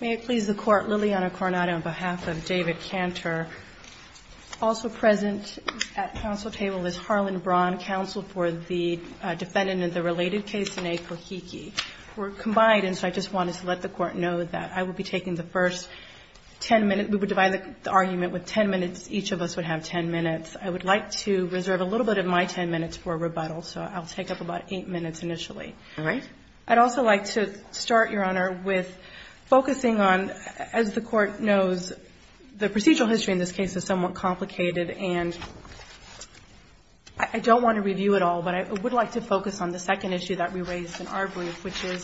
May it please the Court, Liliana Coronado on behalf of David Cantor. Also present at counsel table is Harlan Braun, counsel for the defendant in the related case in A. KOHIKI. We're combined and so I just wanted to let the Court know that I will be taking the first 10 minutes, we would divide the argument with 10 minutes, each of us would have 10 minutes. I would like to reserve a little bit of my 10 minutes for rebuttal so I'll take up about 8 minutes initially. I'd also like to start, Your Honor, with focusing on, as the Court knows, the procedural history in this case is somewhat complicated and I don't want to review it all but I would like to focus on the second issue that we raised in our brief which is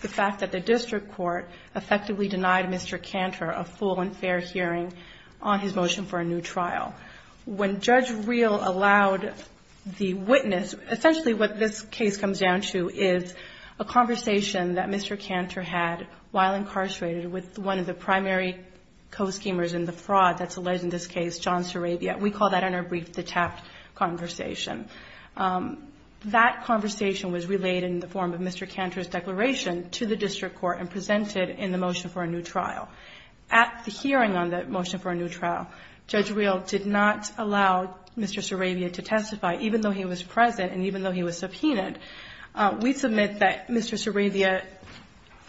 the fact that the district court effectively denied Mr. Cantor a full and fair hearing on his motion for a new trial. When Judge Reel allowed the witness, essentially what this case comes down to is a conversation that Mr. Cantor had while incarcerated with one of the primary co-schemers in the fraud that's alleged in this case, John Sarabia. We call that in our brief the tapped conversation. That conversation was relayed in the form of Mr. Cantor's declaration to the district court and presented in the motion for a new trial. At the hearing on the motion for a new trial, Judge Reel did not allow Mr. Sarabia to testify even though he was present and even though he was subpoenaed. We submit that Mr. Sarabia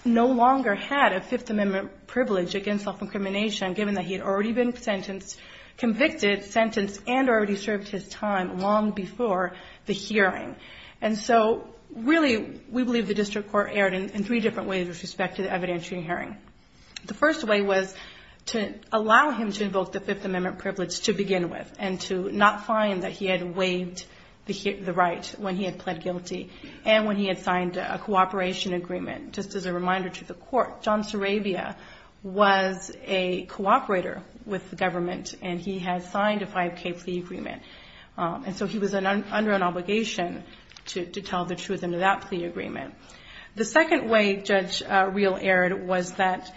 no longer had a Fifth Amendment privilege against self-incrimination given that he had already been convicted, sentenced, and already served his time long before the hearing. And so, really, we believe the district court erred in three different ways with respect to the evidentiary hearing. The first way was to allow him to invoke the Fifth Amendment and not find that he had waived the right when he had pled guilty and when he had signed a cooperation agreement. Just as a reminder to the court, John Sarabia was a cooperator with the government and he had signed a 5K plea agreement. And so he was under an obligation to tell the truth in that plea agreement. The second way Judge Reel erred was that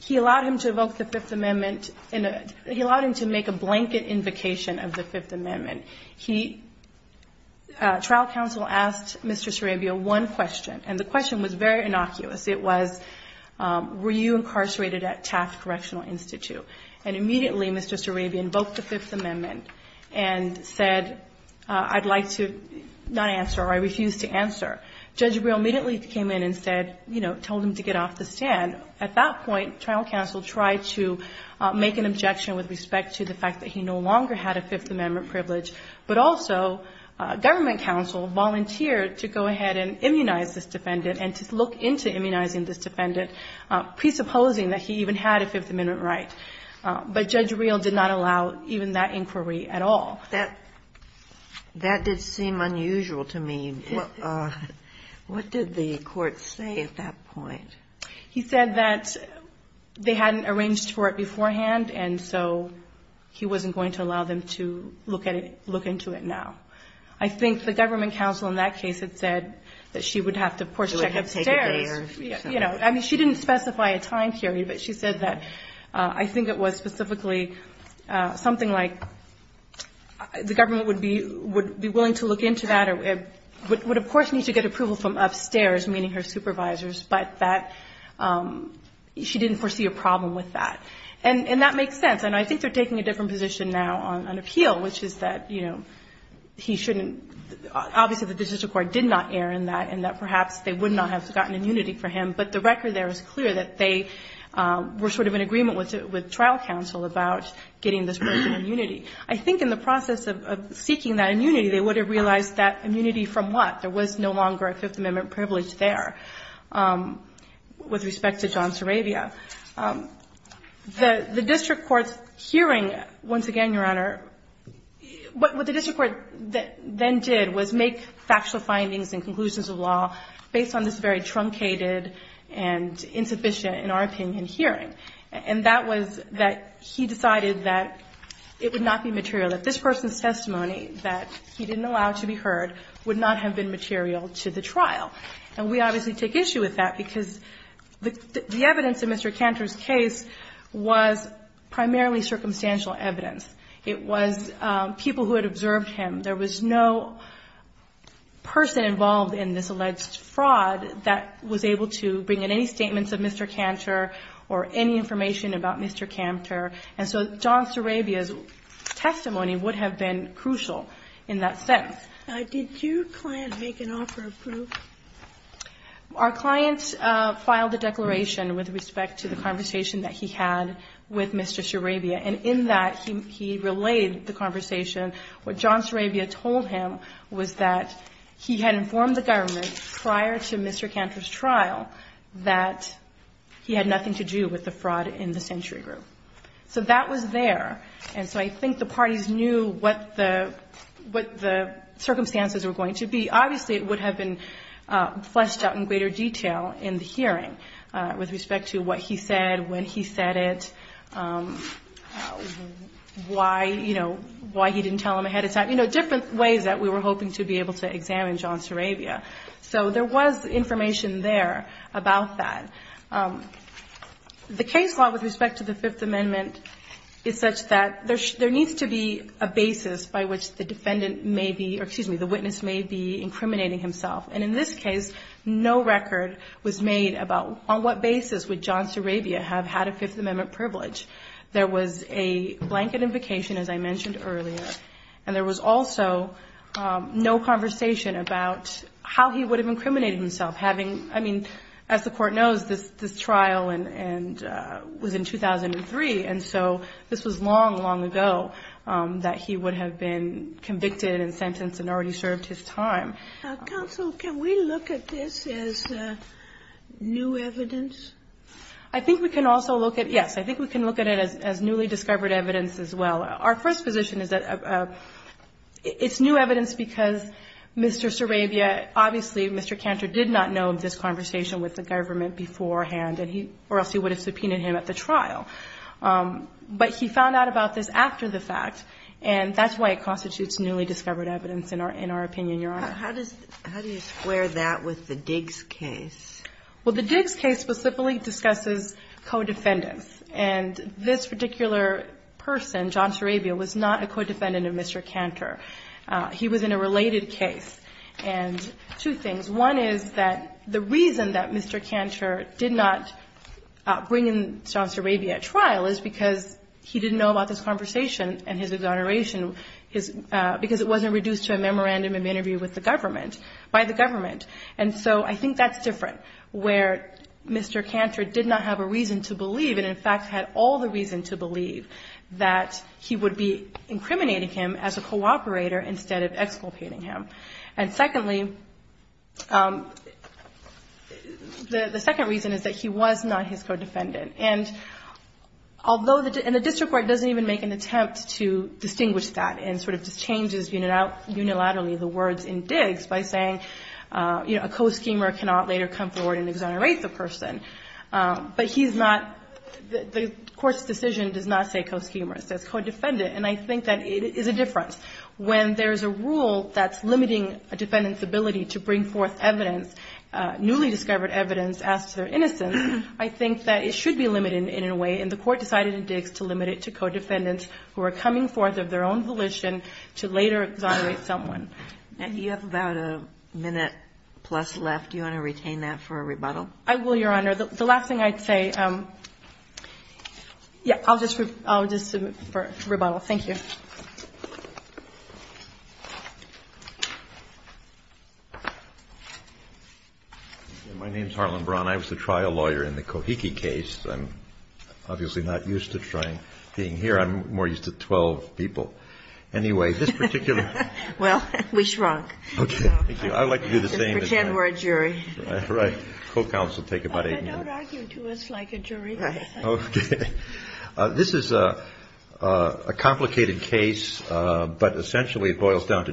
he allowed him to evoke the Fifth Amendment and he allowed him to blanket invocation of the Fifth Amendment. He, trial counsel asked Mr. Sarabia one question and the question was very innocuous. It was, were you incarcerated at Taft Correctional Institute? And immediately, Mr. Sarabia invoked the Fifth Amendment and said, I'd like to not answer or I refuse to answer. Judge Reel immediately came in and said, you know, told him to get off the stand. At that point, trial counsel tried to make an objection with respect to the fact that he no longer had a Fifth Amendment privilege, but also government counsel volunteered to go ahead and immunize this defendant and to look into immunizing this defendant, presupposing that he even had a Fifth Amendment right. But Judge Reel did not allow even that inquiry at all. That did seem unusual to me. What did the court say at that point? He said that they hadn't arranged for it beforehand and so he wasn't going to allow them to look at it, look into it now. I think the government counsel in that case had said that she would have to, of course, check upstairs, you know. I mean, she didn't specify a time period, but she said that I think it was specifically something like the government would be willing to look into that or would, of course, need to get approval from upstairs, meaning her opinion was that she didn't foresee a problem with that. And that makes sense. And I think they're taking a different position now on appeal, which is that, you know, he shouldn't – obviously, the district court did not err in that, and that perhaps they would not have gotten immunity for him, but the record there is clear that they were sort of in agreement with trial counsel about getting this person immunity. I think in the process of seeking that immunity, they would have realized that immunity from what? There was no longer a Fifth Amendment privilege there with respect to John Suravia. The district court's hearing, once again, Your Honor, what the district court then did was make factual findings and conclusions of law based on this very truncated and insufficient, in our opinion, hearing, and that was that he decided that it would not be material, that this person's testimony that he didn't allow to be heard would not have been material to the trial. And we obviously take issue with that because the evidence in Mr. Cantor's case was primarily circumstantial evidence. It was people who had observed him. There was no person involved in this alleged fraud that was able to bring in any statements of Mr. Cantor or any information about Mr. Cantor. And so John Suravia's testimony would have been crucial in that sense. Did your client make an offer of proof? Our client filed a declaration with respect to the conversation that he had with Mr. Suravia, and in that he relayed the conversation. What John Suravia told him was that he had informed the government prior to Mr. Cantor's trial that he had nothing to do with the fraud in the Century Group. So that was there. And so I think the parties knew what the circumstances were going to be. Obviously, it would have been fleshed out in greater detail in the hearing with respect to what he said, when he said it, why, you know, why he didn't tell him ahead of time, you know, different ways that we were hoping to be able to examine John Suravia. So there was information there about that. The case law with respect to the Fifth Amendment is such that there needs to be a basis by which the defendant may be or, excuse me, the witness may be incriminating himself. And in this case, no record was made about on what basis would John Suravia have had a Fifth Amendment privilege. There was a blanket invocation, as I mentioned earlier. And there was also no conversation about how he would have incriminated himself, having, I mean, as the Court knows, this trial was in 2003, and so this was long, long ago that he would have been convicted and sentenced and already served his time. I think we can also look at, yes, I think we can look at it as newly discovered evidence as well. Our first position is that it's new evidence because Mr. Suravia obviously, Mr. Cantor did not know of this conversation with the government beforehand, or else he would have subpoenaed him at the trial. But he found out about this after the fact, and that's why it constitutes newly discovered evidence, in our opinion, Your Honor. How do you square that with the Diggs case? Well, the Diggs case specifically discusses co-defendants. And this particular person, John Suravia, was not a co-defendant of Mr. Cantor. He was in a related case. And two things. One is that the reason that Mr. Cantor did not bring in John Suravia at trial is because he didn't know about this conversation and his exoneration because it wasn't reduced to a memorandum of interview with the government, by the government. And so I think that's different, where Mr. Cantor did not have a reason to believe, and in fact had all the reason to believe, that he would be incriminating him as a cooperator instead of exculpating him. And secondly, the second reason is that he was not his co-defendant. And although the district court doesn't even make an attempt to distinguish that and sort of just changes unilaterally the words in Diggs by saying a co-schemer cannot later come forward and exonerate the person, but he's not, the court's decision does not say co-schemer. It says co-defendant. And I think that it is a difference. When there's a rule that's limiting a defendant's ability to bring forth evidence, newly discovered evidence, as to their innocence, I think that it should be limited in a way. And the court decided in Diggs to limit it to co-defendants who are coming forth of their own volition to later exonerate someone. And you have about a minute plus left. Do you want to retain that for a rebuttal? I will, Your Honor. The last thing I'd say, yeah, I'll just rebuttal. Thank you. My name's Harlan Braun. I was a trial lawyer in the Kohiki case. I'm obviously not used to trying, being here. I'm more used to 12 people. Anyway, this particular ---- Well, we shrunk. Okay. Thank you. I'd like to do the same. Just pretend we're a jury. Right. Co-counsel take about 8 minutes. But don't argue to us like a jury. Right. Okay. This is a complicated case, but essentially it boils down to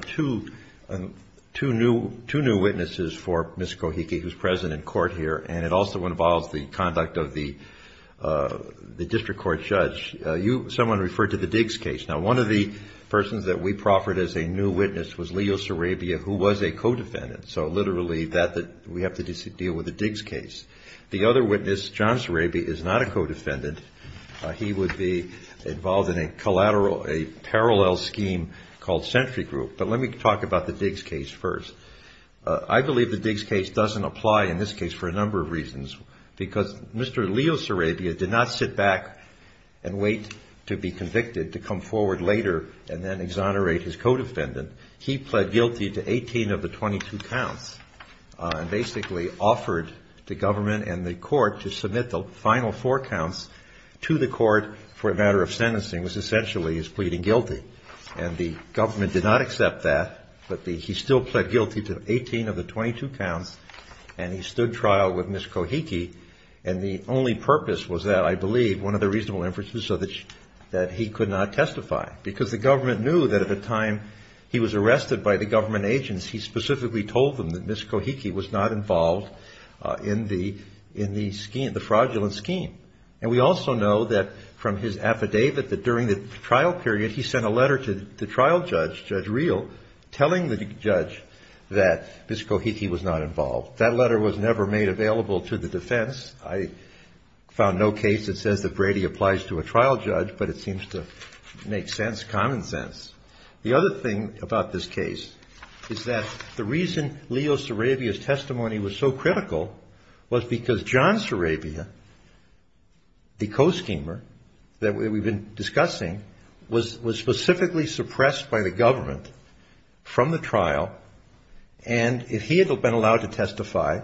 two new witnesses for Ms. Kohiki who's present in court here, and it also involves the conduct of the district court judge. Someone referred to the Diggs case. Now, one of the persons that we proffered as a new witness was Leo Sarabia, who was a co-defendant, so literally that we have to deal with the Diggs case. The other witness, John Sarabia, is not a co-defendant. He would be involved in a parallel scheme called sentry group. But let me talk about the Diggs case first. I believe the Diggs case doesn't apply in this case for a number of reasons because Mr. Leo Sarabia did not sit back and wait to be convicted to come forward later and then exonerate his co-defendant. He pled guilty to 18 of the 22 counts and basically offered the government and the court to submit the final four counts to the court for a matter of sentencing, which essentially is pleading guilty. And the government did not accept that, but he still pled guilty to 18 of the 22 counts, and he stood trial with Ms. Kohiki, and the only purpose was that, I believe, one of the reasonable inferences, so that he could not testify. Because the government knew that at the time he was arrested by the government agents, he specifically told them that Ms. Kohiki was not involved in the fraudulent scheme. And we also know that from his affidavit that during the trial period, he sent a letter to the trial judge, Judge Reel, telling the judge that Ms. Kohiki was not involved. That letter was never made available to the defense. I found no case that says that Brady applies to a trial judge, but it seems to make sense, common sense. The other thing about this case is that the reason Leo Sarabia's testimony was so critical was because John Sarabia, the co-schemer that we've been discussing, was specifically suppressed by the government from the trial, and if he had been allowed to testify,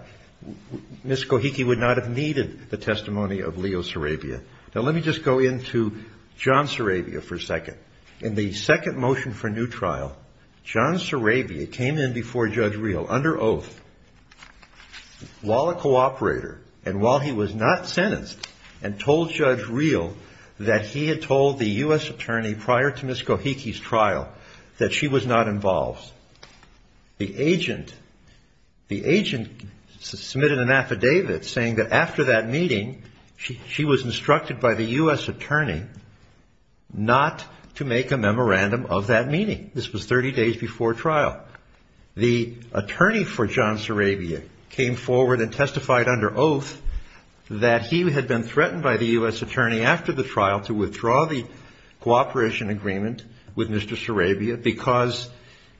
Ms. Kohiki would not have needed the testimony of Leo Sarabia. Now, let me just go into John Sarabia for a second. In the second motion for new trial, John Sarabia came in before Judge Reel under oath, while a cooperator, and while he was not sentenced, and told Judge Reel that he had told the U.S. attorney prior to Ms. Kohiki's trial that she was not involved. The agent, the agent submitted an affidavit saying that after that meeting, she was instructed by the U.S. attorney not to make a memorandum of that meeting. This was 30 days before trial. The attorney for John Sarabia came forward and testified under oath that he had been threatened by the U.S. attorney after the trial to withdraw the cooperation agreement with Mr. Sarabia because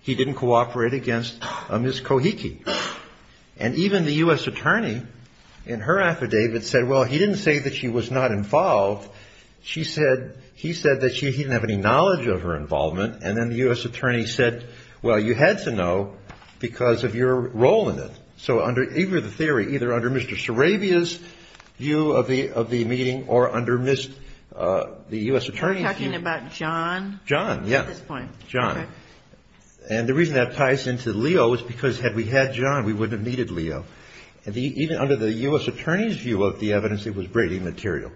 he didn't cooperate against Ms. Kohiki. And even the U.S. attorney in her affidavit said, well, he didn't say that she was not involved. She said, he said that she didn't have any knowledge of her involvement, and then the U.S. attorney said, well, you had to know because of your role in it. So under either the theory, either under Mr. Sarabia's view of the meeting or under Ms., the U.S. attorney's view. You're talking about John? John, yes. At this point. John. And the reason that ties into Leo is because had we had John, we wouldn't have needed Leo. And even under the U.S. attorney's view of the evidence, it was greatly immaterial.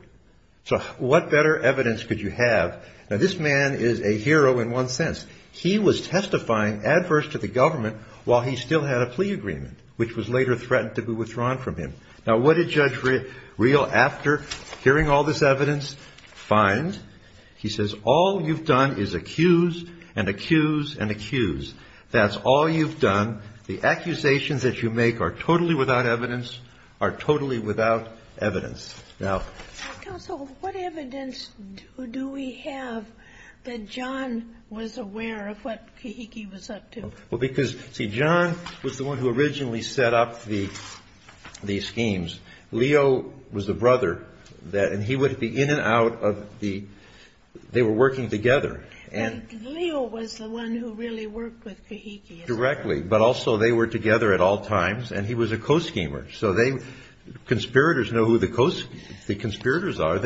So what better evidence could you have? Now, this man is a hero in one sense. He was testifying adverse to the government while he still had a plea agreement, which was later threatened to be withdrawn from him. Now, what did Judge Reel after hearing all this evidence find? He says, all you've done is accuse and accuse and accuse. That's all you've done. The accusations that you make are totally without evidence, are totally without evidence. Now. Counsel, what evidence do we have that John was aware of what Kahiki was up to? Well, because, see, John was the one who originally set up the schemes. Leo was the brother. And he would be in and out of the, they were working together. And Leo was the one who really worked with Kahiki. directly. But also they were together at all times. And he was a co-schemer. So they, conspirators know who the conspirators are.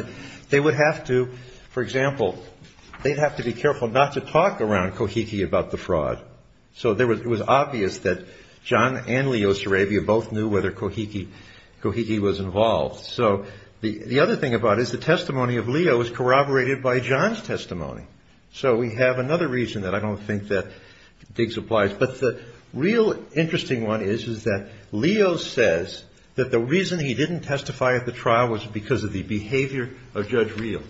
They would have to, for example, they'd have to be careful not to talk around Kahiki about the fraud. So it was obvious that John and Leo Sarabia both knew whether Kahiki was involved. So the other thing about it is the testimony of Leo was corroborated by John's testimony. So we have another reason that I don't think that Diggs applies. But the real interesting one is, is that Leo says that the reason he didn't testify at the trial was because of the behavior of Judge Reel.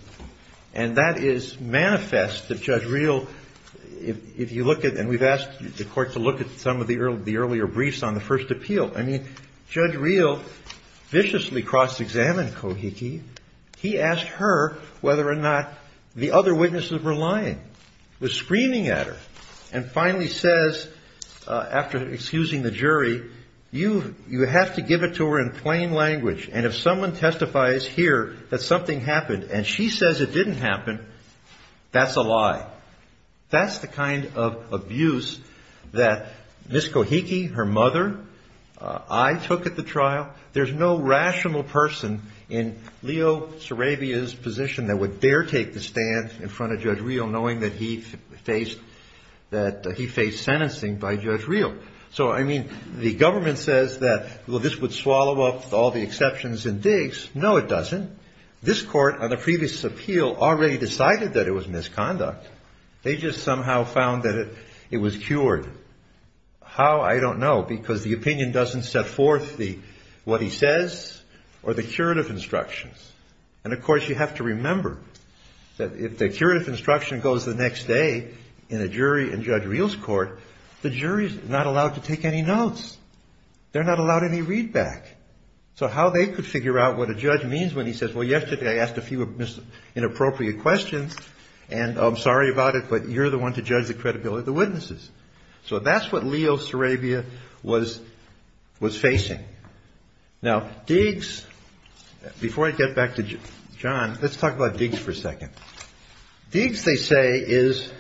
And that is manifest that Judge Reel, if you look at, and we've asked the Court to look at some of the earlier briefs on the first appeal. I mean, Judge Reel viciously cross-examined Kahiki. He asked her whether or not the other witnesses were lying. Was screaming at her. And finally says, after excusing the jury, you have to give it to her in plain language. And if someone testifies here that something happened and she says it didn't happen, that's a lie. That's the kind of abuse that Miss Kahiki, her mother, I took at the trial. There's no rational person in Leo Sarabia's position that would dare take the stand in front of Judge Reel knowing that he faced sentencing by Judge Reel. So, I mean, the government says that, well, this would swallow up all the exceptions in Diggs. No, it doesn't. This Court on the previous appeal already decided that it was misconduct. They just somehow found that it was cured. How, I don't know, because the opinion doesn't set forth what he says or the curative instructions. And, of course, you have to remember that if the curative instruction goes the next day in a jury in Judge Reel's court, the jury is not allowed to take any notes. They're not allowed any readback. So how they could figure out what a judge means when he says, well, yesterday I asked a few inappropriate questions and I'm the witnesses. So that's what Leo Sarabia was facing. Now, Diggs, before I get back to John, let's talk about Diggs for a second. Diggs, they say, is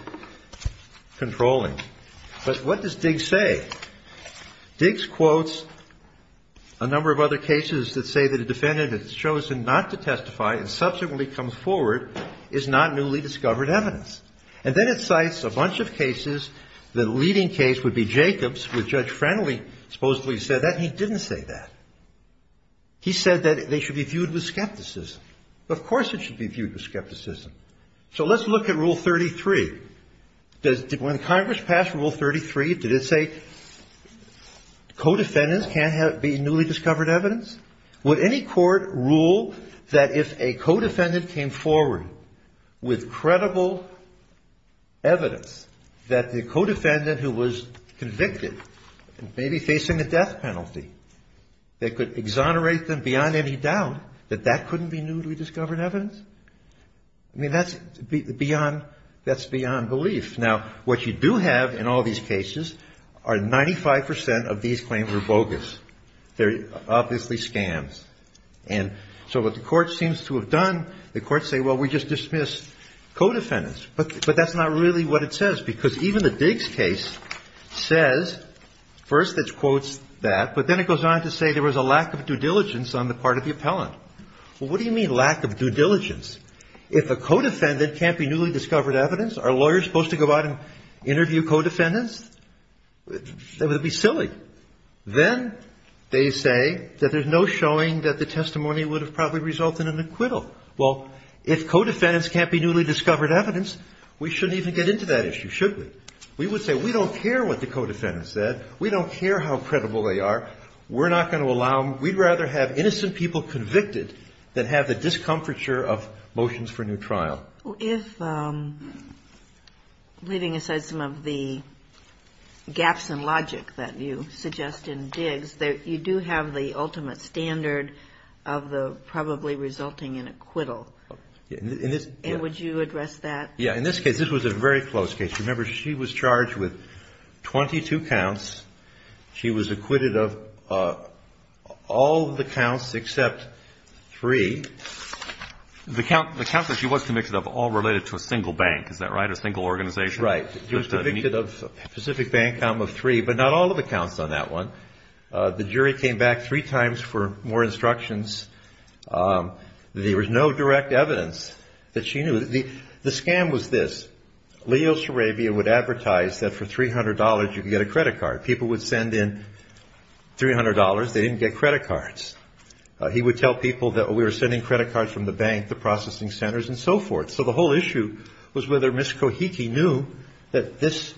controlling. But what does Diggs say? Diggs quotes a number of other cases that say that a defendant is chosen not to testify and that's a bunch of cases. The leading case would be Jacobs, which Judge Friendly supposedly said that. He didn't say that. He said that they should be viewed with skepticism. Of course it should be viewed with skepticism. So let's look at Rule 33. When Congress passed Rule 33, did it say co-defendants can't be newly discovered evidence? Would any court rule that if a co-defendant came forward with credible evidence, that the co-defendant who was convicted may be facing a death penalty, they could exonerate them beyond any doubt that that couldn't be newly discovered evidence? I mean, that's beyond belief. Now, what you do have in all these cases are 95 percent of these claims are bogus. They're Now, let's look at what it says, because even the Diggs case says first it quotes that, but then it goes on to say there was a lack of due diligence on the part of the appellant. Well, what do you mean lack of due diligence? If a co-defendant can't be newly discovered evidence, are lawyers supposed to go out and interview co-defendants? That would be silly. Then they say that there's no showing that the testimony would have probably resulted in an acquittal. Well, if co-defendants can't be newly discovered evidence, we shouldn't even get into that issue, should we? We would say we don't care what the co-defendants said. We don't care how credible they are. We're not going to allow them. We'd rather have innocent people convicted than have the gaps in logic that you suggest in Diggs that you do have the ultimate standard of the probably resulting in acquittal. And would you address that? Yeah. In this case, this was a very close case. Remember, she was charged with 22 counts. She was acquitted of all the counts except three. The counts that she was convicted of were all related to a single bank. Is that right? A single organization? Right. She was convicted of Pacific Bank, a count of three, but not all of the counts on that one. The jury came back three times for more instructions. There was no direct evidence that she knew. The scam was this. Leo Sarabia would advertise that for $300 you could get a credit card. People would send in credit cards from the bank, the processing centers and so forth. So the whole issue was whether Ms. Kohiki knew that this,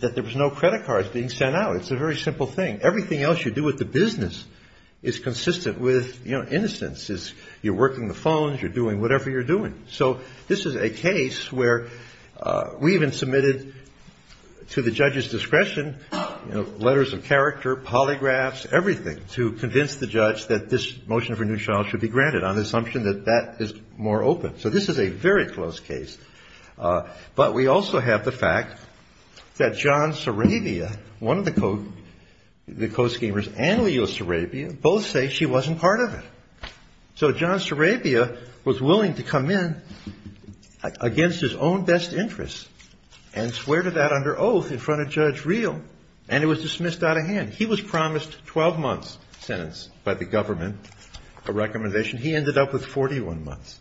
that there was no credit cards being sent out. It's a very simple thing. Everything else you do with the business is consistent with, you know, innocence. You're working the phones. You're doing whatever you're doing. So this is a case where we even submitted to the judge's discretion, you know, letters of character, polygraphs, everything to convince the judge that this motion for a new trial should be granted on the assumption that that is more open. So this is a very close case. But we also have the fact that John Sarabia, one of the co-schemers, and Leo Sarabia both say she wasn't part of it. So John Sarabia was willing to come in against his own best interests and swear to that under oath in front of Judge Reel. And it was dismissed out of hand. He was promised 12 months' sentence by the government, a recommendation. He ended up with 41 months.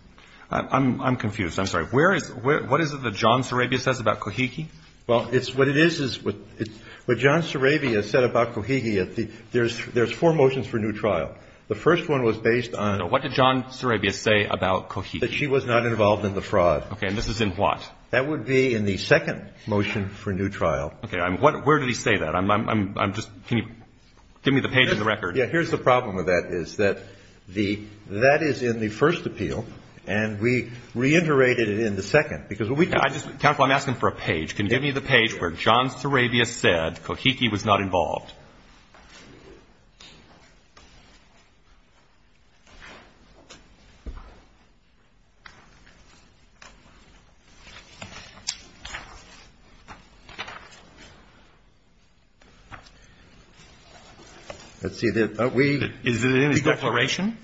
I'm confused. I'm sorry. Where is – what is it that John Sarabia says about Kohiki? Well, it's – what it is is – what John Sarabia said about Kohiki, there's four motions for new trial. The first one was based on – So what did John Sarabia say about Kohiki? That she was not involved in the fraud. Okay. And this is in what? That would be in the second motion for new trial. Okay. Where did he say that? I'm just – can you give me the page in the record? Yeah. Here's the problem with that, is that the – that is in the first appeal, and we reiterated it in the second. Because what we do – Counsel, I'm asking for a page. Can you give me the page where John Sarabia said Kohiki was not involved? Let's see. We – Is it in his declaration?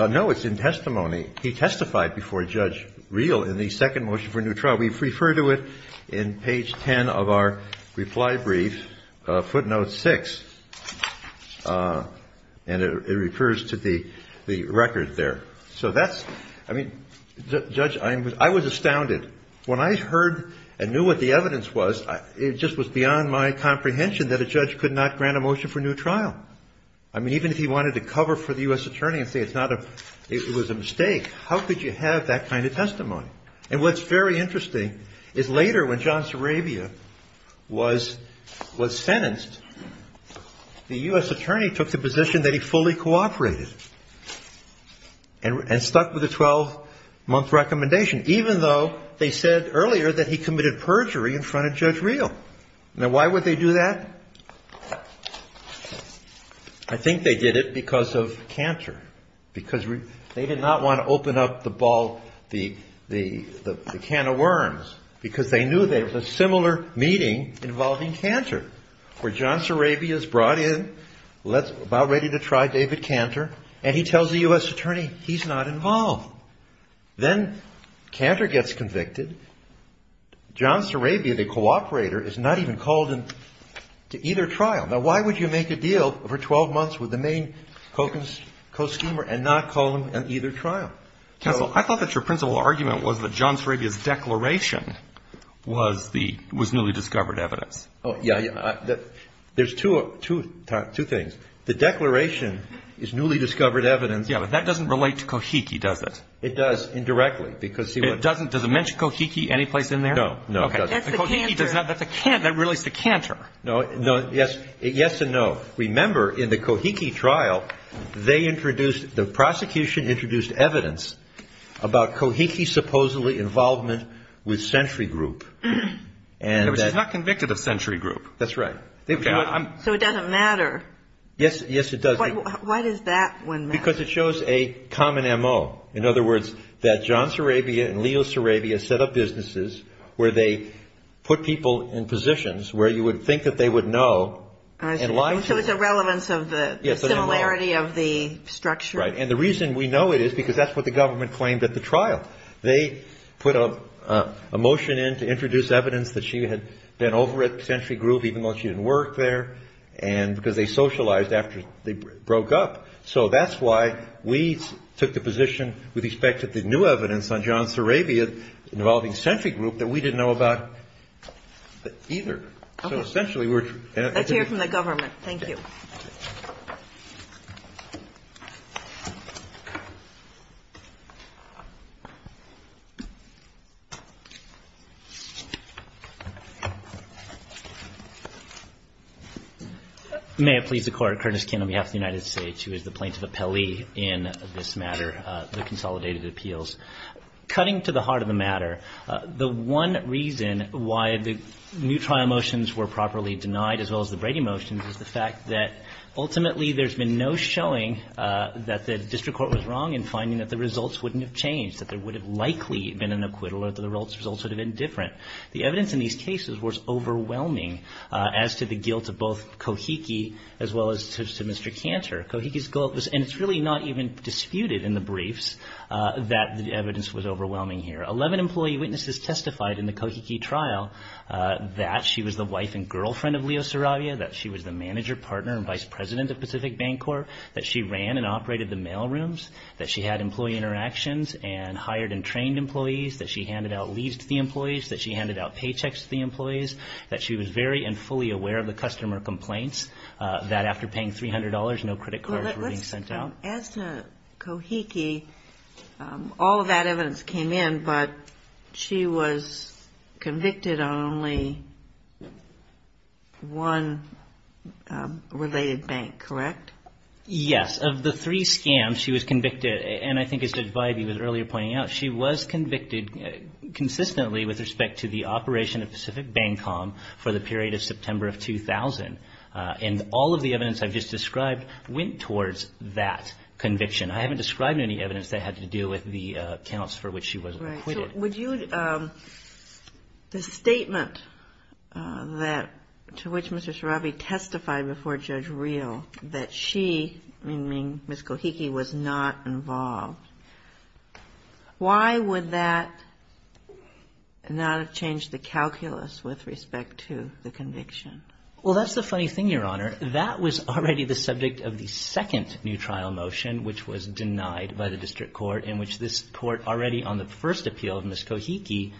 No. It's in testimony. He testified before Judge Reel in the second motion for new trial. We refer to it in page 10 of our reply brief, footnote 6. And it refers to the record there. So that's – I mean, Judge, I was astounded. When I heard and knew what the evidence was, it just was beyond my comprehension that a judge could not grant a motion for new trial. I mean, even if he wanted to cover for the U.S. attorney and say it's not a – it was a mistake, how could you have that kind of testimony? And what's very interesting is later, when John Sarabia was sentenced, the U.S. attorney took the position that he fully cooperated and stuck with the 12-month recommendation, even though they said earlier that he committed perjury in front of Judge Reel. Now, why would they do that? I think they did it because of Cantor, because they did not want to open up the ball – the can of worms, because they knew there was a similar meeting involving Cantor. Where John Sarabia is brought in, about ready to try David Cantor, and he tells the U.S. attorney he's not involved. Then Cantor gets convicted. John Sarabia, the cooperator, is not even called in to either trial. Now, why would you make a deal for 12 months with the main co-schemer and not call him in either trial? Counsel, I thought that your principal argument was that John Sarabia's declaration was the – was newly discovered evidence. Oh, yeah. There's two things. The declaration is newly discovered evidence. Yeah, but that doesn't relate to Kohiki, does it? It does, indirectly, because he was – It doesn't – does it mention Kohiki any place in there? No, no, it doesn't. Okay. That's the Cantor. That's the – that really is the Cantor. No, no, yes – yes and no. Remember, in the Kohiki trial, they introduced – the prosecution introduced evidence about Kohiki's supposedly involvement with Century Group. Which is not convicted of Century Group. That's right. So it doesn't matter. Yes, yes, it doesn't. Why does that one matter? Because it shows a common MO. In other words, that John Sarabia and Leo Sarabia set up businesses where they put people in positions where you would think that they would know and lie to them. So it's a relevance of the similarity of the structure. Right. And the reason we know it is because that's what the government claimed at the trial. They put a motion in to introduce evidence that she had been over at Century Group even though she didn't work there. And – because they socialized after they broke up. So that's why we took the position with respect to the new evidence on John Sarabia involving Century Group that we didn't know about either. So essentially we're – Let's hear from the government. Thank you. May it please the Court. Curtis Kin on behalf of the United States, who is the plaintiff appellee in this matter, the consolidated appeals. Cutting to the heart of the matter, the one reason why the new trial motions were properly denied, as well as the Brady motions, is the fact that ultimately there's been no showing that the district court was wrong in finding that the results wouldn't have changed, that there would have likely been an acquittal or that the results would have been different. The evidence in these cases was overwhelming as to the guilt of both Kohiki as well as to Mr. Cantor. Kohiki's guilt was – and it's really not even disputed in the briefs that the evidence was overwhelming here. Eleven employee witnesses testified in the Kohiki trial that she was the wife and girlfriend of Leo Sarabia, that she was the manager, partner, and vice president of Pacific Bancorp, that she ran and operated the mail rooms, that she had employee interactions and hired and trained employees, that she handed out leaves to the employees, that she handed out paychecks to the employees, that she was very and fully aware of the customer complaints, that after paying $300, no credit cards were being sent out. As to Kohiki, all of that evidence came in, but she was convicted on only one related bank, correct? Yes. Of the three scams, she was convicted – and I think as Judge Vibey was earlier pointing out, she was convicted consistently with respect to the operation of Pacific Bancorp for the period of September of 2000. And all of the evidence I've just described went towards that conviction. I haven't described any evidence that had to do with the accounts for which she was acquitted. Right. So would you – the statement that – to which Mr. Sarabi testified before Judge Reel, that she, meaning Ms. Kohiki, was not involved, why would that not have changed the calculus with respect to the conviction? Well, that's the funny thing, Your Honor. That was already the subject of the second new trial motion, which was denied by the district court, in which this court already on the first appeal of Ms. Kohiki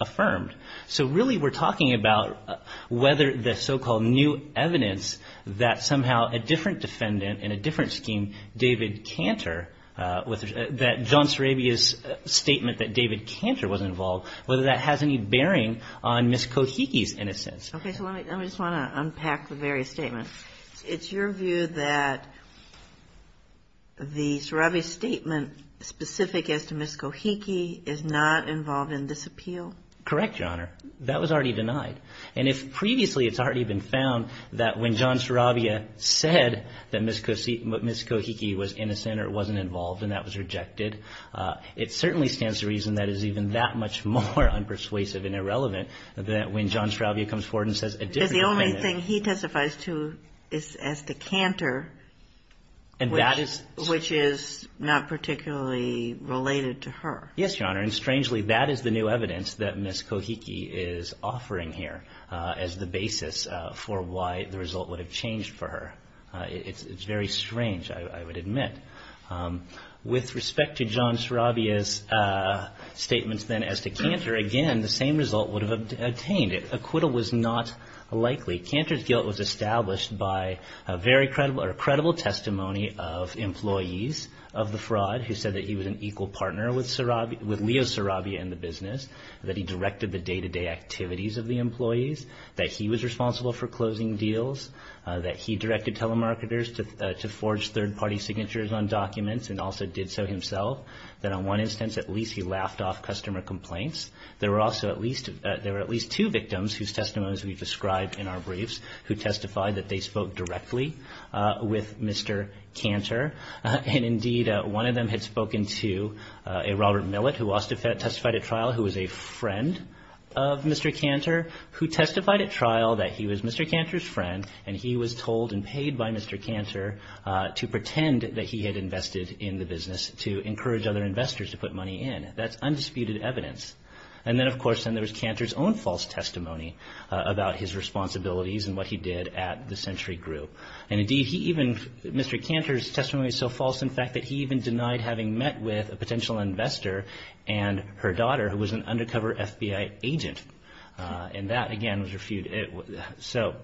affirmed. So really we're talking about whether the so-called new evidence that somehow a different defendant and a different scheme, David Cantor, that John Sarabi's statement that David Cantor was involved, whether that has any bearing on Ms. Kohiki's innocence. Okay. So let me just want to unpack the various statements. It's your view that the Sarabi statement specific as to Ms. Kohiki is not involved in this appeal? Correct, Your Honor. That was already denied. And if previously it's already been found that when John Sarabi said that Ms. Kohiki was innocent or wasn't involved and that was rejected, it certainly stands to reason that is even that much more unpersuasive and irrelevant than when John Sarabi comes forward and says a different defendant. Because the only thing he testifies to is as to Cantor, which is not particularly related to her. Yes, Your Honor. And strangely, that is the new evidence that Ms. Kohiki is offering here as the basis for why the result would have changed for her. It's very strange, I would admit. With respect to John Sarabi's statements then as to Cantor, again, the same result would have obtained. Acquittal was not likely. Cantor's guilt was established by a very credible testimony of employees of the fraud who said that he was an equal partner with Leo Sarabi and the business, that he directed the day-to-day activities of the employees, that he was responsible for closing deals, that he directed telemarketers to forge third-party signatures on documents and also did so himself, that on one instance at least he laughed off customer complaints. There were also at least two victims whose testimonies we've described in our briefs who testified that they spoke directly with Mr. Cantor. And indeed, one of them had spoken to a Robert Millett who also testified at trial who was a friend of Mr. Cantor who testified at trial that he was Mr. Cantor's friend and he was told and paid by Mr. Cantor to pretend that he had invested in the business to encourage other investors to put money in. That's undisputed evidence. And then, of course, then there was Cantor's own false testimony about his responsibilities and what he did at the Century Group. And indeed, Mr. Cantor's testimony was so false, in fact, that he even denied having met with a potential investor and her daughter who was an undercover FBI agent. And that, again, was refuted. So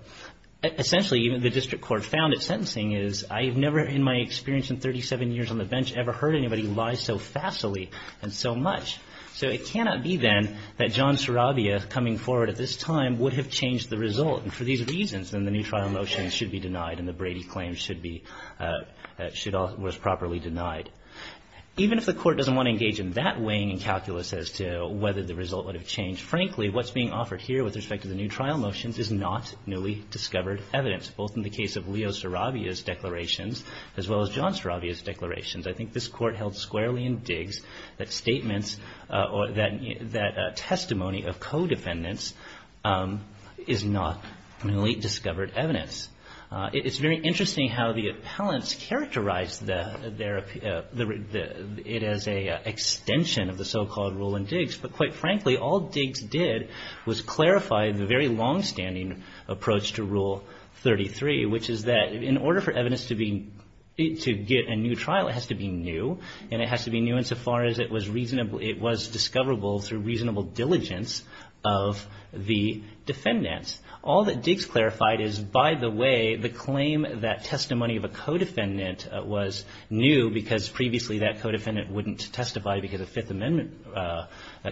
essentially, even the district court found at sentencing is, I have never in my experience in 37 years on the bench ever heard anybody lie so facilely and so much. So it cannot be then that John Sarabia coming forward at this time would have changed the result. And for these reasons, then the new trial motion should be denied and the Brady claim should be – was properly denied. Even if the court doesn't want to engage in that weighing and calculus as to whether the result would have changed. Frankly, what's being offered here with respect to the new trial motions is not newly discovered evidence, both in the case of Leo Sarabia's declarations as well as John Sarabia's declarations. I think this court held squarely in Diggs that statements or that testimony of co-defendants is not newly discovered evidence. It's very interesting how the appellants characterized it as an extension of the so-called rule in Diggs. But quite frankly, all Diggs did was clarify the very longstanding approach to Rule 33, which is that in order for evidence to be – to get a new trial, it has to be new. And it has to be new insofar as it was reasonable – it was discoverable through reasonable diligence of the defendants. All that Diggs clarified is, by the way, the claim that testimony of a co-defendant was new because previously that co-defendant wouldn't testify because of Fifth Amendment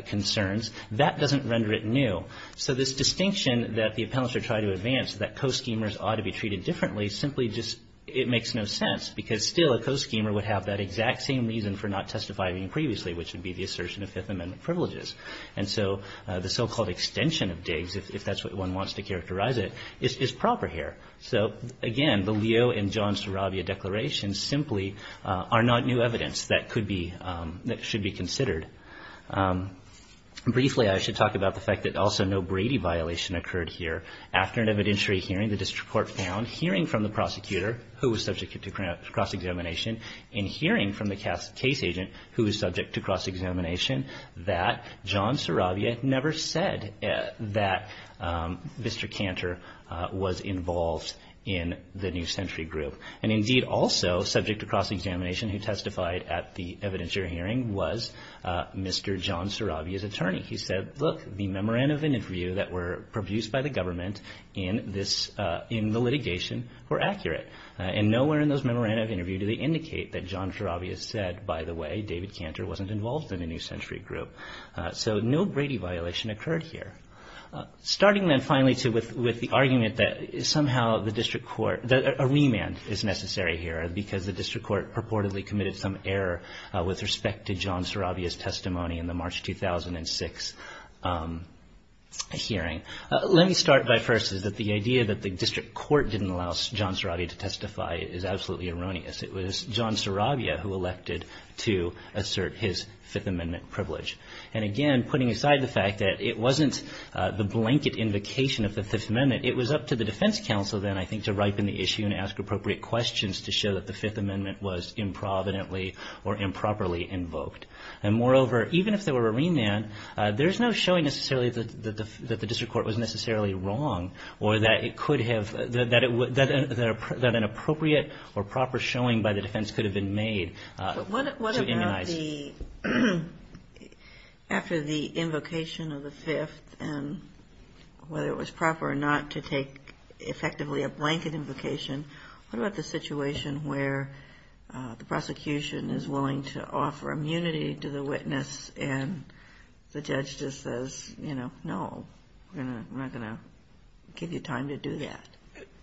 concerns, that doesn't render it new. So this distinction that the appellants are trying to advance, that co-schemers ought to be treated differently, simply just – it makes no sense because still a co-schemer would have that exact same reason for not testifying previously, which would be the assertion of Fifth Amendment privileges. And so the so-called extension of Diggs, if that's what one wants to characterize it, is proper here. So again, the Leo and John Staravia declarations simply are not new evidence that could be – that should be considered. Briefly, I should talk about the fact that also no Brady violation occurred here. After an evidentiary hearing, the district court found hearing from the prosecutor who was subject to cross-examination and hearing from the case agent who was subject to cross-examination that John Staravia never said that Mr. Cantor was involved in the New Century Group. And indeed also subject to cross-examination who testified at the evidentiary hearing was Mr. John Staravia's attorney. He said, look, the memorandum of interview that were produced by the government in the litigation were accurate. And nowhere in those memorandum of interview do they indicate that John Staravia said, by the way, David Cantor wasn't involved in the New Century Group. So no Brady violation occurred here. Starting then finally with the argument that somehow the district court – that a remand is necessary here because the district court purportedly committed some error with respect to John Staravia's testimony in the March 2006 hearing. Let me start by first is that the idea that the district court didn't allow John Staravia to testify is absolutely erroneous. It was John Staravia who elected to assert his Fifth Amendment privilege. And again, putting aside the fact that it wasn't the blanket invocation of the Fifth Amendment, it was up to the defense counsel then I think to ripen the issue and ask appropriate questions to show that the Fifth Amendment was improvidently or improperly invoked. And moreover, even if there were a remand, there's no showing necessarily that the district court was necessarily wrong or that it could have – that an appropriate or proper showing by the defense could have been made to immunize. What about the – after the invocation of the Fifth and whether it was proper or not to take effectively a blanket invocation, what about the situation where the prosecution is willing to offer immunity to the witness and the judge just says, you know, no, we're not going to give you time to do that?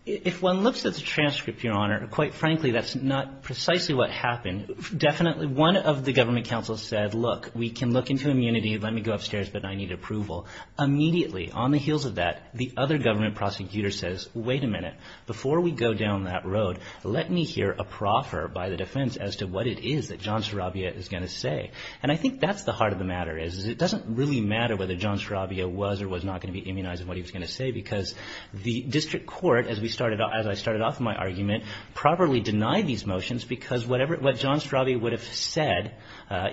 If one looks at the transcript, Your Honor, quite frankly, that's not precisely what happened. Definitely one of the government counsels said, look, we can look into immunity. Let me go upstairs, but I need approval. Immediately on the heels of that, the other government prosecutor says, wait a minute. Before we go down that road, let me hear a proffer by the defense as to what it is that John Staravia is going to say. And I think that's the heart of the matter, is it doesn't really matter whether John Staravia was or was not going to be immunized and what he was going to say because the district court, as we started – as I started off my argument, properly denied these motions because whatever – what John Staravia would have said,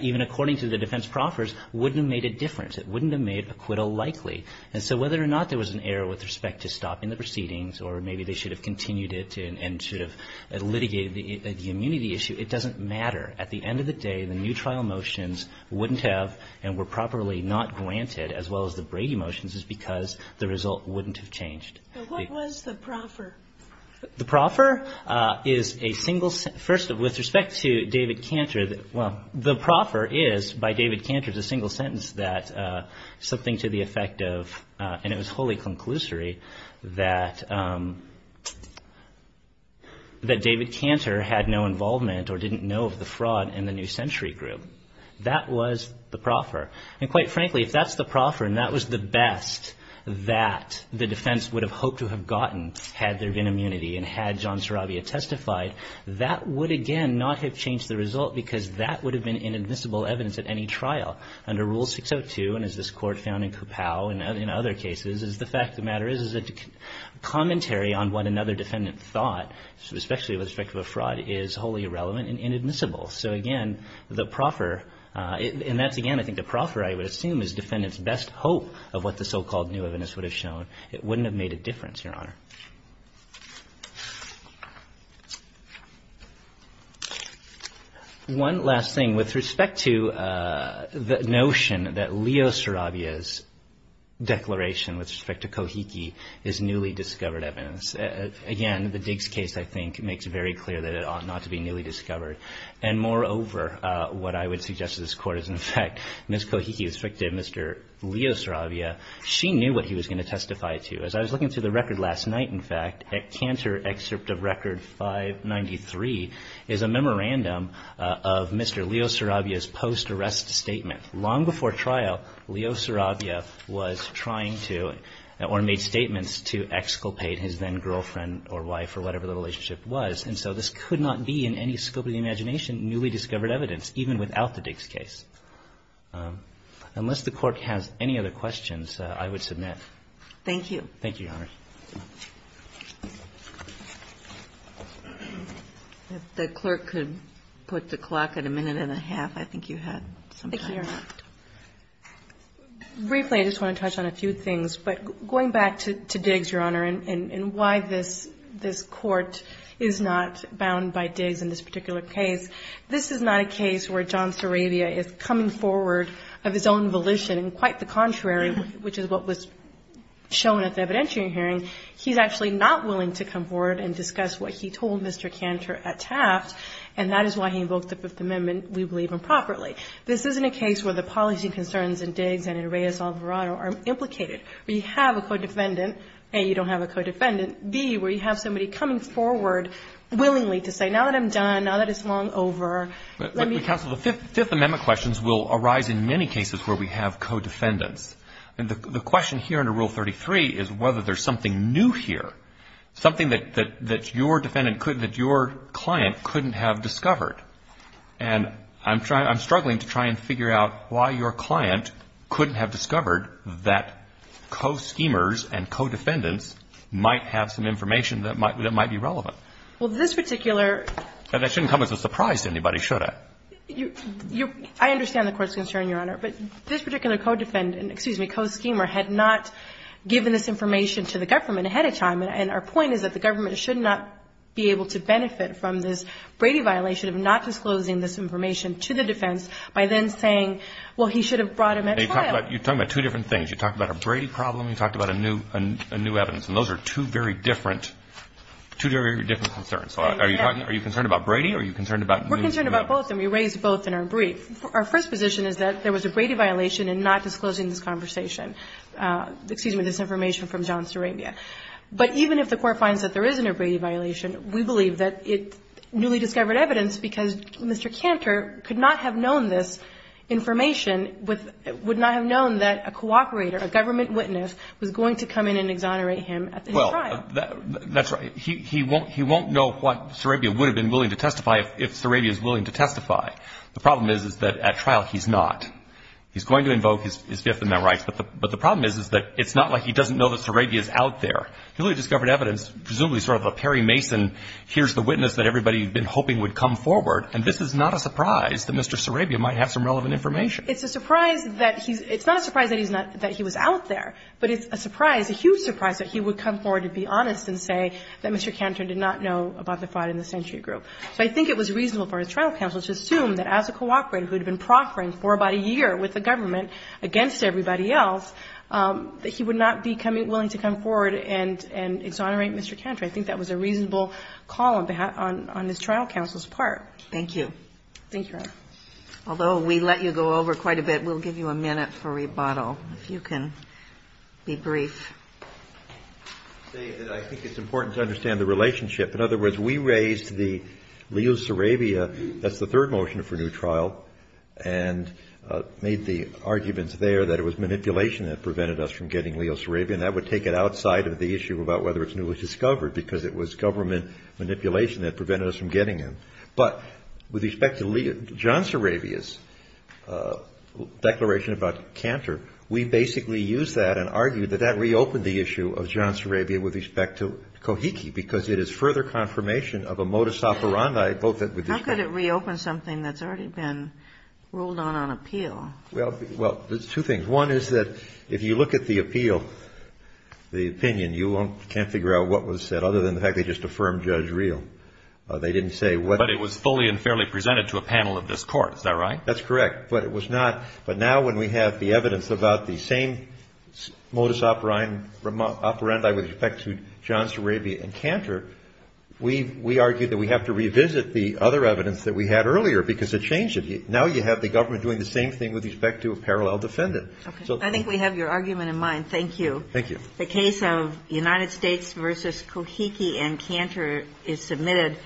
even according to the defense proffers, wouldn't have made a difference. It wouldn't have made acquittal likely. And so whether or not there was an error with respect to stopping the proceedings or maybe they should have continued it and should have litigated the immunity issue, it doesn't matter. At the end of the day, the new trial motions wouldn't have and were properly not granted, as well as the Brady motions, is because the result wouldn't have changed. The – What was the proffer? The proffer is a single – first, with respect to David Cantor, well, the proffer is by David Cantor is a single sentence that something to the effect of – and it was wholly conclusory that – that David Cantor had no involvement or didn't know of the fraud in the New Century Group. That was the proffer. And quite frankly, if that's the proffer and that was the best that the defense would have hoped to have gotten had there been immunity and had John Staravia testified, that would, again, not have changed the result because that would have been inadmissible evidence at any trial. Under Rule 602, and as this Court found in Coupow and in other cases, the fact of the matter is that commentary on what another defendant thought, especially with respect to a fraud, is wholly irrelevant and inadmissible. So, again, the proffer – and that's, again, I think the proffer, I would assume, is defendants' best hope of what the so-called new evidence would have shown. It wouldn't have made a difference, Your Honor. One last thing. With respect to the notion that Leo Staravia's declaration with respect to Kohiki is newly discovered evidence, again, the Diggs case, I think, makes it very clear that it ought not to be newly discovered. And moreover, what I would suggest to this Court is, in fact, Ms. Kohiki was speaking to Mr. Leo Staravia. She knew what he was going to testify to. As I was looking through the record last night, in fact, at Cantor Excerpt of Record 593, is a memorandum of Mr. Leo Staravia's post-arrest statement. Long before trial, Leo Staravia was trying to, or made statements to, exculpate his then-girlfriend or wife or whatever the relationship was. And so this could not be, in any scope of the imagination, newly discovered evidence, even without the Diggs case. Unless the Court has any other questions, I would submit. Thank you. Thank you, Your Honor. If the clerk could put the clock at a minute and a half, I think you had some time. Thank you, Your Honor. Briefly, I just want to touch on a few things. But going back to Diggs, Your Honor, and why this Court is not bound by Diggs in this particular case, this is not a case where John Staravia is coming forward of his own He's actually not willing to come forward and discuss what he told Mr. Cantor at Taft. And that is why he invoked the Fifth Amendment, we believe, improperly. This isn't a case where the policy concerns in Diggs and in Reyes-Alvarado are implicated. We have a co-defendant. A, you don't have a co-defendant. B, where you have somebody coming forward willingly to say, now that I'm done, now that it's long over, let me ---- But, counsel, the Fifth Amendment questions will arise in many cases where we have co-defendants. And the question here under Rule 33 is whether there's something new here, something that your defendant could ---- that your client couldn't have discovered. And I'm struggling to try and figure out why your client couldn't have discovered that co-schemers and co-defendants might have some information that might be relevant. Well, this particular ---- And that shouldn't come as a surprise to anybody, should it? You're ---- I understand the Court's concern, Your Honor. But this particular co-defendant, excuse me, co-schemer, had not given this information to the government ahead of time. And our point is that the government should not be able to benefit from this Brady violation of not disclosing this information to the defense by then saying, well, he should have brought him at trial. You're talking about two different things. You're talking about a Brady problem. You're talking about a new evidence. And those are two very different concerns. So are you concerned about Brady or are you concerned about new evidence? We're concerned about both, and we raised both in our brief. Our first position is that there was a Brady violation in not disclosing this conversation ---- excuse me, this information from John Surabia. But even if the Court finds that there is a Brady violation, we believe that it newly discovered evidence because Mr. Cantor could not have known this information with ---- would not have known that a cooperator, a government witness, was going to come in and exonerate him at his trial. Well, that's right. He won't know what Surabia would have been willing to testify if Surabia is willing to testify. The problem is, is that at trial he's not. He's going to invoke his Fifth Amendment rights. But the problem is, is that it's not like he doesn't know that Surabia is out there. He newly discovered evidence, presumably sort of a Perry Mason, here's the witness that everybody had been hoping would come forward, and this is not a surprise that Mr. Surabia might have some relevant information. It's a surprise that he's ---- it's not a surprise that he's not ---- that he was out there, but it's a surprise, a huge surprise that he would come forward and be honest and say that Mr. Cantor did not know about the fight in the century group. So I think it was reasonable for his trial counsel to assume that as a cooperator who had been proffering for about a year with the government against everybody else, that he would not be willing to come forward and exonerate Mr. Cantor. I think that was a reasonable call on his trial counsel's part. Thank you. Thank you, Your Honor. Although we let you go over quite a bit, we'll give you a minute for rebuttal if you can be brief. I think it's important to understand the relationship. In other words, we raised the Leo Surabia, that's the third motion for new trial, and made the arguments there that it was manipulation that prevented us from getting Leo Surabia, and that would take it outside of the issue about whether it's newly discovered, because it was government manipulation that prevented us from getting him. But with respect to John Surabia's declaration about Cantor, we basically used that and argued that that reopened the issue of John Surabia with respect to Kohiki, because it is further confirmation of a modus operandi. How could it reopen something that's already been ruled on on appeal? Well, there's two things. One is that if you look at the appeal, the opinion, you can't figure out what was said, other than the fact they just affirmed Judge Reel. They didn't say what they said. But it was fully and fairly presented to a panel of this Court. Is that right? That's correct. But now when we have the evidence about the same modus operandi with respect to John Surabia and Cantor, we argue that we have to revisit the other evidence that we had earlier, because it changed it. Now you have the government doing the same thing with respect to a parallel defendant. Okay. I think we have your argument in mind. Thank you. Thank you. The case of United States v. Kohiki and Cantor is submitted.